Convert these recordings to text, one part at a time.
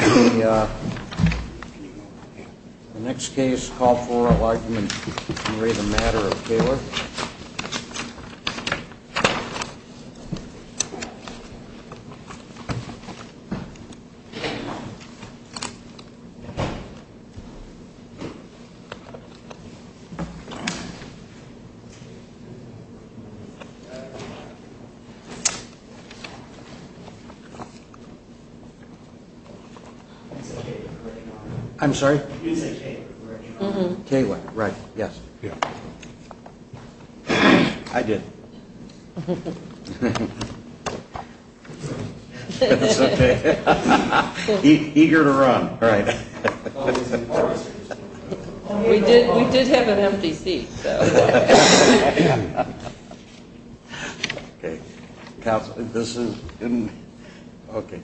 The next case, call for an argument in re the Matter of Koehler. I'm sorry. I did. Eager to run right. We did. We did have an empty seat.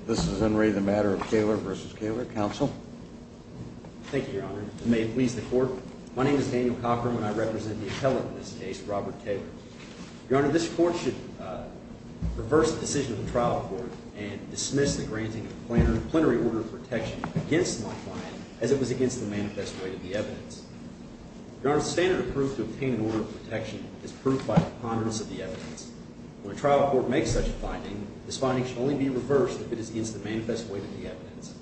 This is in re the Matter of Koehler versus Koehler. Counsel. Thank you, Your Honor. May it please the court. My name is Daniel Cochran, and I represent the appellate in this case, Robert Taylor. Your Honor, this court should reverse the decision of the trial court and dismiss the granting of the plenary order of protection against my client as it was against the manifest way of the evidence. Your Honor, the standard of proof to obtain an order of protection is proved by the preponderance of the evidence. When a trial court makes such a finding, this finding should only be reversed if it is against the manifest way of the evidence.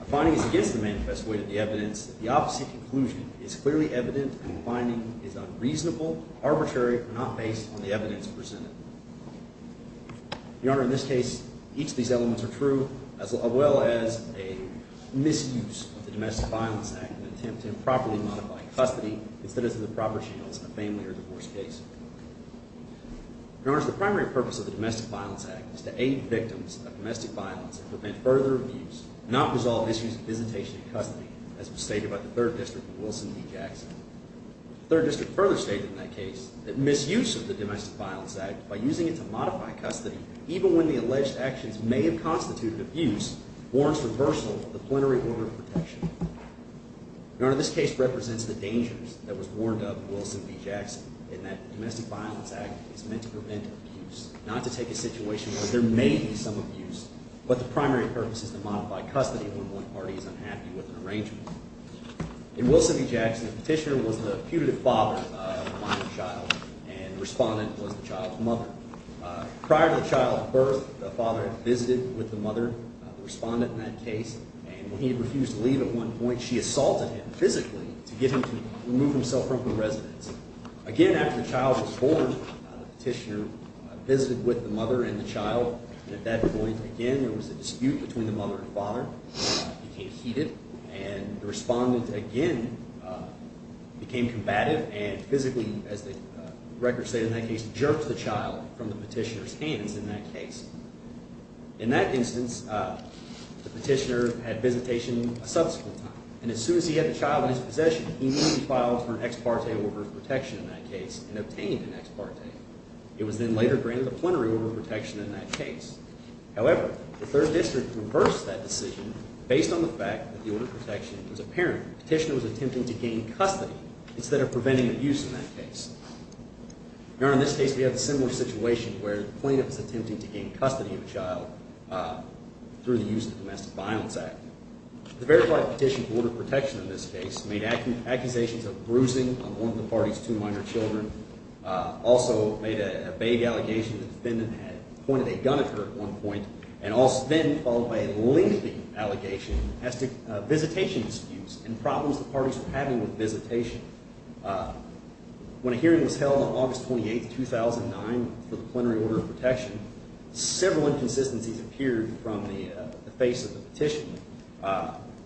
If a finding is against the manifest way of the evidence, the opposite conclusion is clearly evident, and the finding is unreasonable, arbitrary, or not based on the evidence presented. Your Honor, in this case, each of these elements are true, as well as a misuse of the Domestic Violence Act in an attempt to improperly modify the evidence presented. Your Honor, the purpose of the Domestic Violence Act is to aid victims of domestic violence and prevent further abuse, not resolve issues of hesitation in custody, as was stated by the 3rd District in Wilson v. Jackson. The 3rd District further stated in that case that misuse of the Domestic Violence Act by using it to modify custody, even when the alleged actions may have constituted abuse, warrants reversal of the plenary order of protection. Your Honor, this case represents the dangers that was warned of in Wilson v. Jackson in that the Domestic Violence Act is meant to prevent abuse, not to take a situation where there may be some abuse. But the primary purpose is to modify custody when one party is unhappy with an arrangement. In Wilson v. Jackson, Petitioner was the putative father of the minor child, and the respondent was the child's mother. Prior to the child's birth, the father had visited with the mother, the respondent in that case, and when he refused to leave at one point, Petitioner refused to leave. At one point, she assaulted him physically to get him to remove himself from her residence. Again, after the child was born, Petitioner visited with the mother and the child, and at that point, again, there was a dispute between the mother and father. It became heated, and the respondent, again, became combative and physically, as the records state in that case, jerked the child from the Petitioner's hands in that case. In that instance, the Petitioner had visitation a subsequent time, and as soon as he had the child in his possession, he immediately filed for an ex parte order of protection in that case and obtained an ex parte. It was then later granted a plenary order of protection in that case. However, the Third District reversed that decision based on the fact that the order of protection was apparent. Petitioner was attempting to gain custody instead of preventing abuse in that case. Your Honor, in this case, we have a similar situation where the plaintiff is attempting to gain custody of a child through the use of the Domestic Violence Act. The verified petition for order of protection in this case made accusations of bruising on one of the party's two minor children, also made a vague allegation that the defendant had pointed a gun at her at one point, and then followed by a lengthy allegation of visitation disputes and problems the parties were having with visitation. When a hearing was held on August 28, 2009 for the plenary order of protection, several inconsistencies appeared from the face of the Petitioner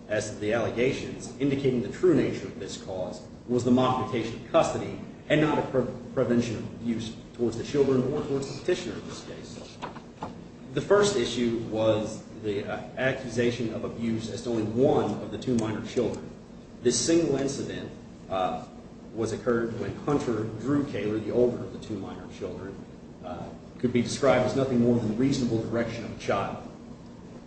as to the allegations, indicating the true nature of this cause was the modification of custody and not a prevention of abuse towards the children or towards the Petitioner in this case. The first issue was the accusation of abuse as to only one of the two minor children. This single incident was occurred when Hunter Drew Caylor, the older of the two minor children, could be described as nothing more than reasonable direction of a child.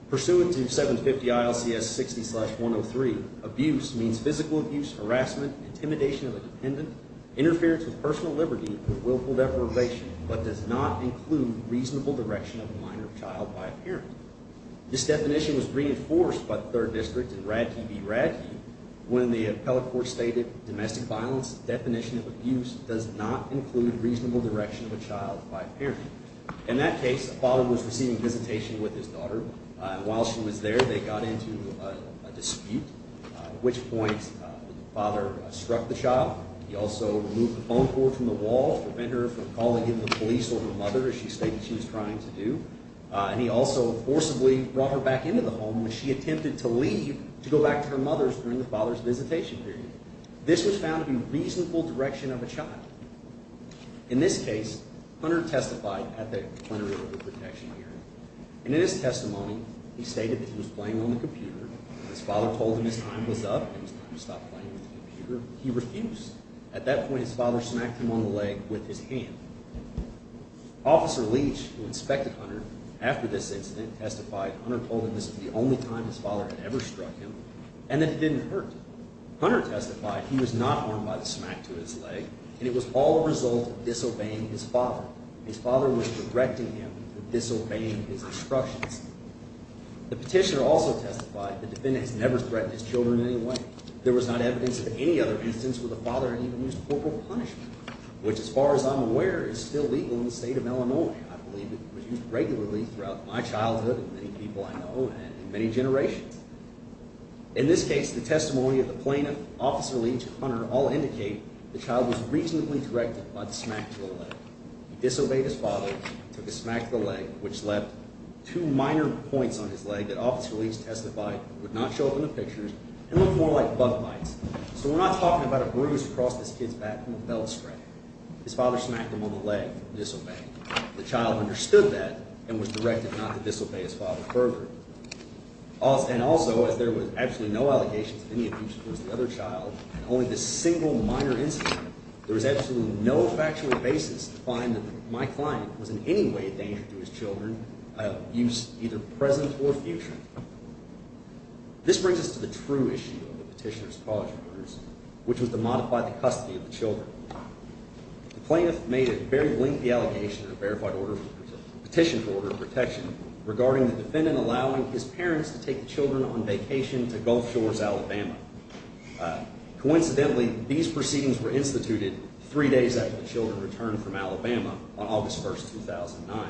Pursuant to 750 ILCS 60-103, abuse means physical abuse, harassment, intimidation of a dependent, interference with personal liberty, or willful deprivation, but does not include reasonable direction of a minor child by a parent. This definition was reinforced by the Third District in Radke v. Radke when the appellate court stated domestic violence definition of abuse does not include reasonable direction of a child by a parent. In that case, a father was receiving visitation with his daughter. While she was there, they got into a dispute, at which point the father struck the child. He also removed the phone cord from the wall to prevent her from calling in the police or her mother as she stated she was trying to do. He also forcibly brought her back into the home when she attempted to leave to go back to her mother's during the father's visitation period. This was found to be reasonable direction of a child. In this case, Hunter testified at the plenary of the protection hearing. In his testimony, he stated that he was playing on the computer. When his father told him his time was up and it was time to stop playing on the computer, he refused. At that point, his father smacked him on the leg with his hand. Officer Leach, who inspected Hunter after this incident, testified Hunter told him this was the only time his father had ever struck him and that it didn't hurt. Hunter testified he was not harmed by the smack to his leg, and it was all a result of disobeying his father. His father was regretting him for disobeying his instructions. The petitioner also testified the defendant has never threatened his children in any way. There was not evidence of any other instance where the father had even used corporal punishment, which as far as I'm aware is still legal in the state of Illinois. I believe it was used regularly throughout my childhood and many people I know and many generations. In this case, the testimony of the plaintiff, Officer Leach, and Hunter all indicate the child was reasonably directed by the smack to the leg. He disobeyed his father and took a smack to the leg, which left two minor points on his leg that Officer Leach testified would not show up in the pictures and looked more like bug bites. So we're not talking about a bruise across this kid's back from a belt strike. His father smacked him on the leg for disobeying. The child understood that and was directed not to disobey his father's program. And also, as there were absolutely no allegations of any abuse towards the other child and only this single minor incident, there was absolutely no factual basis to find that my client was in any way a danger to his children, either present or future. This brings us to the true issue of the Petitioner's College Orders, which was to modify the custody of the children. The plaintiff made a very lengthy allegation in the Petition for Order of Protection regarding the defendant allowing his parents to take the children on vacation to Gulf Shores, Alabama. Coincidentally, these proceedings were instituted three days after the children returned from Alabama on August 1, 2009.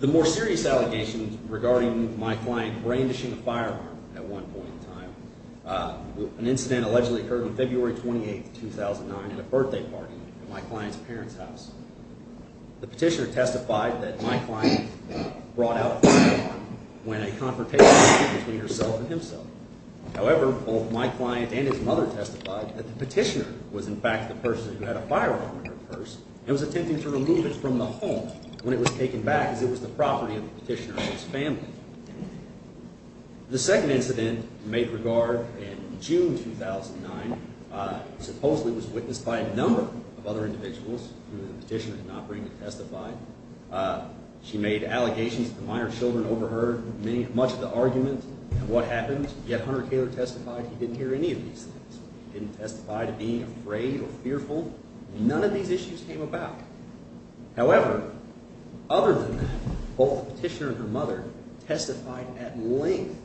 The more serious allegations regarding my client brandishing a firearm at one point in time, an incident allegedly occurred on February 28, 2009, at a birthday party at my client's parents' house. The petitioner testified that my client brought out a firearm when a confrontation occurred between herself and himself. However, both my client and his mother testified that the petitioner was, in fact, the person who had a firearm in her purse and was attempting to remove it from the home when it was taken back as it was the property of the petitioner and his family. The second incident made regard in June 2009 supposedly was witnessed by a number of other individuals who the petitioner did not bring to testify. She made allegations that the minor children overheard much of the argument and what happened, yet Hunter Taylor testified he didn't hear any of these things. He didn't testify to being afraid or fearful. None of these issues came about. However, other than that, both the petitioner and her mother testified at length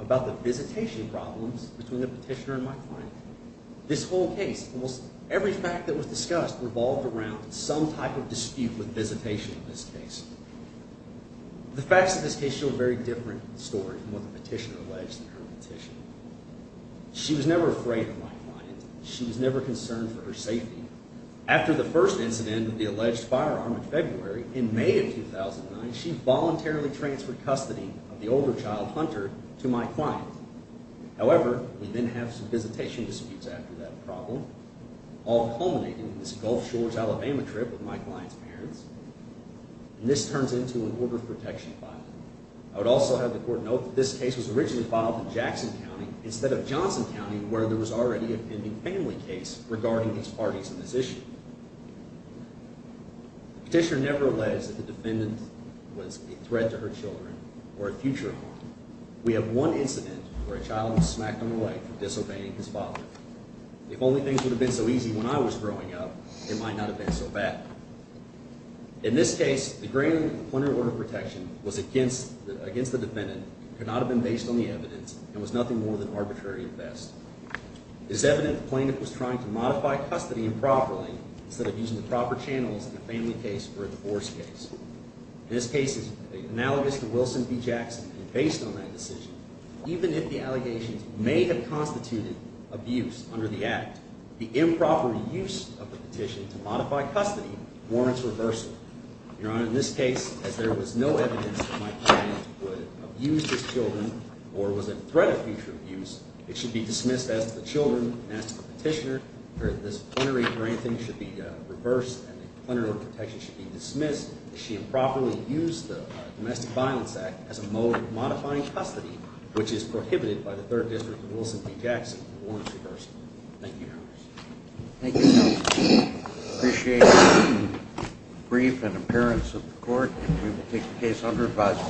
about the visitation problems between the petitioner and my client. This whole case, almost every fact that was discussed, revolved around some type of dispute with visitation in this case. The facts of this case show a very different story from what the petitioner alleged in her petition. She was never afraid of my client. She was never concerned for her safety. After the first incident with the alleged firearm in February, in May of 2009, she voluntarily transferred custody of the older child, Hunter, to my client. However, we then have some visitation disputes after that problem, all culminating in this Gulf Shores, Alabama trip with my client's parents, and this turns into an order of protection file. I would also have the court note that this case was originally filed in Jackson County instead of Johnson County, where there was already a pending family case regarding these parties in this issue. The petitioner never alleged that the defendant was a threat to her children or a future harm. We have one incident where a child was smacked on the leg for disobeying his father. If only things would have been so easy when I was growing up, it might not have been so bad. In this case, the graining of the point of order of protection was against the defendant, could not have been based on the evidence, and was nothing more than arbitrary at best. It is evident the plaintiff was trying to modify custody improperly instead of using the proper channels in a family case or a divorce case. This case is analogous to Wilson v. Jackson, and based on that decision, even if the allegations may have constituted abuse under the act, the improper use of the petition to modify custody warrants reversal. Your Honor, in this case, as there was no evidence that my client would abuse his children or was a threat of future abuse, it should be dismissed as the children and as the petitioner that this plenary graining should be reversed and the point of order of protection should be dismissed if she improperly used the Domestic Violence Act as a mode of modifying custody, which is prohibited by the Third District of Wilson v. Jackson, warrants reversal. Thank you.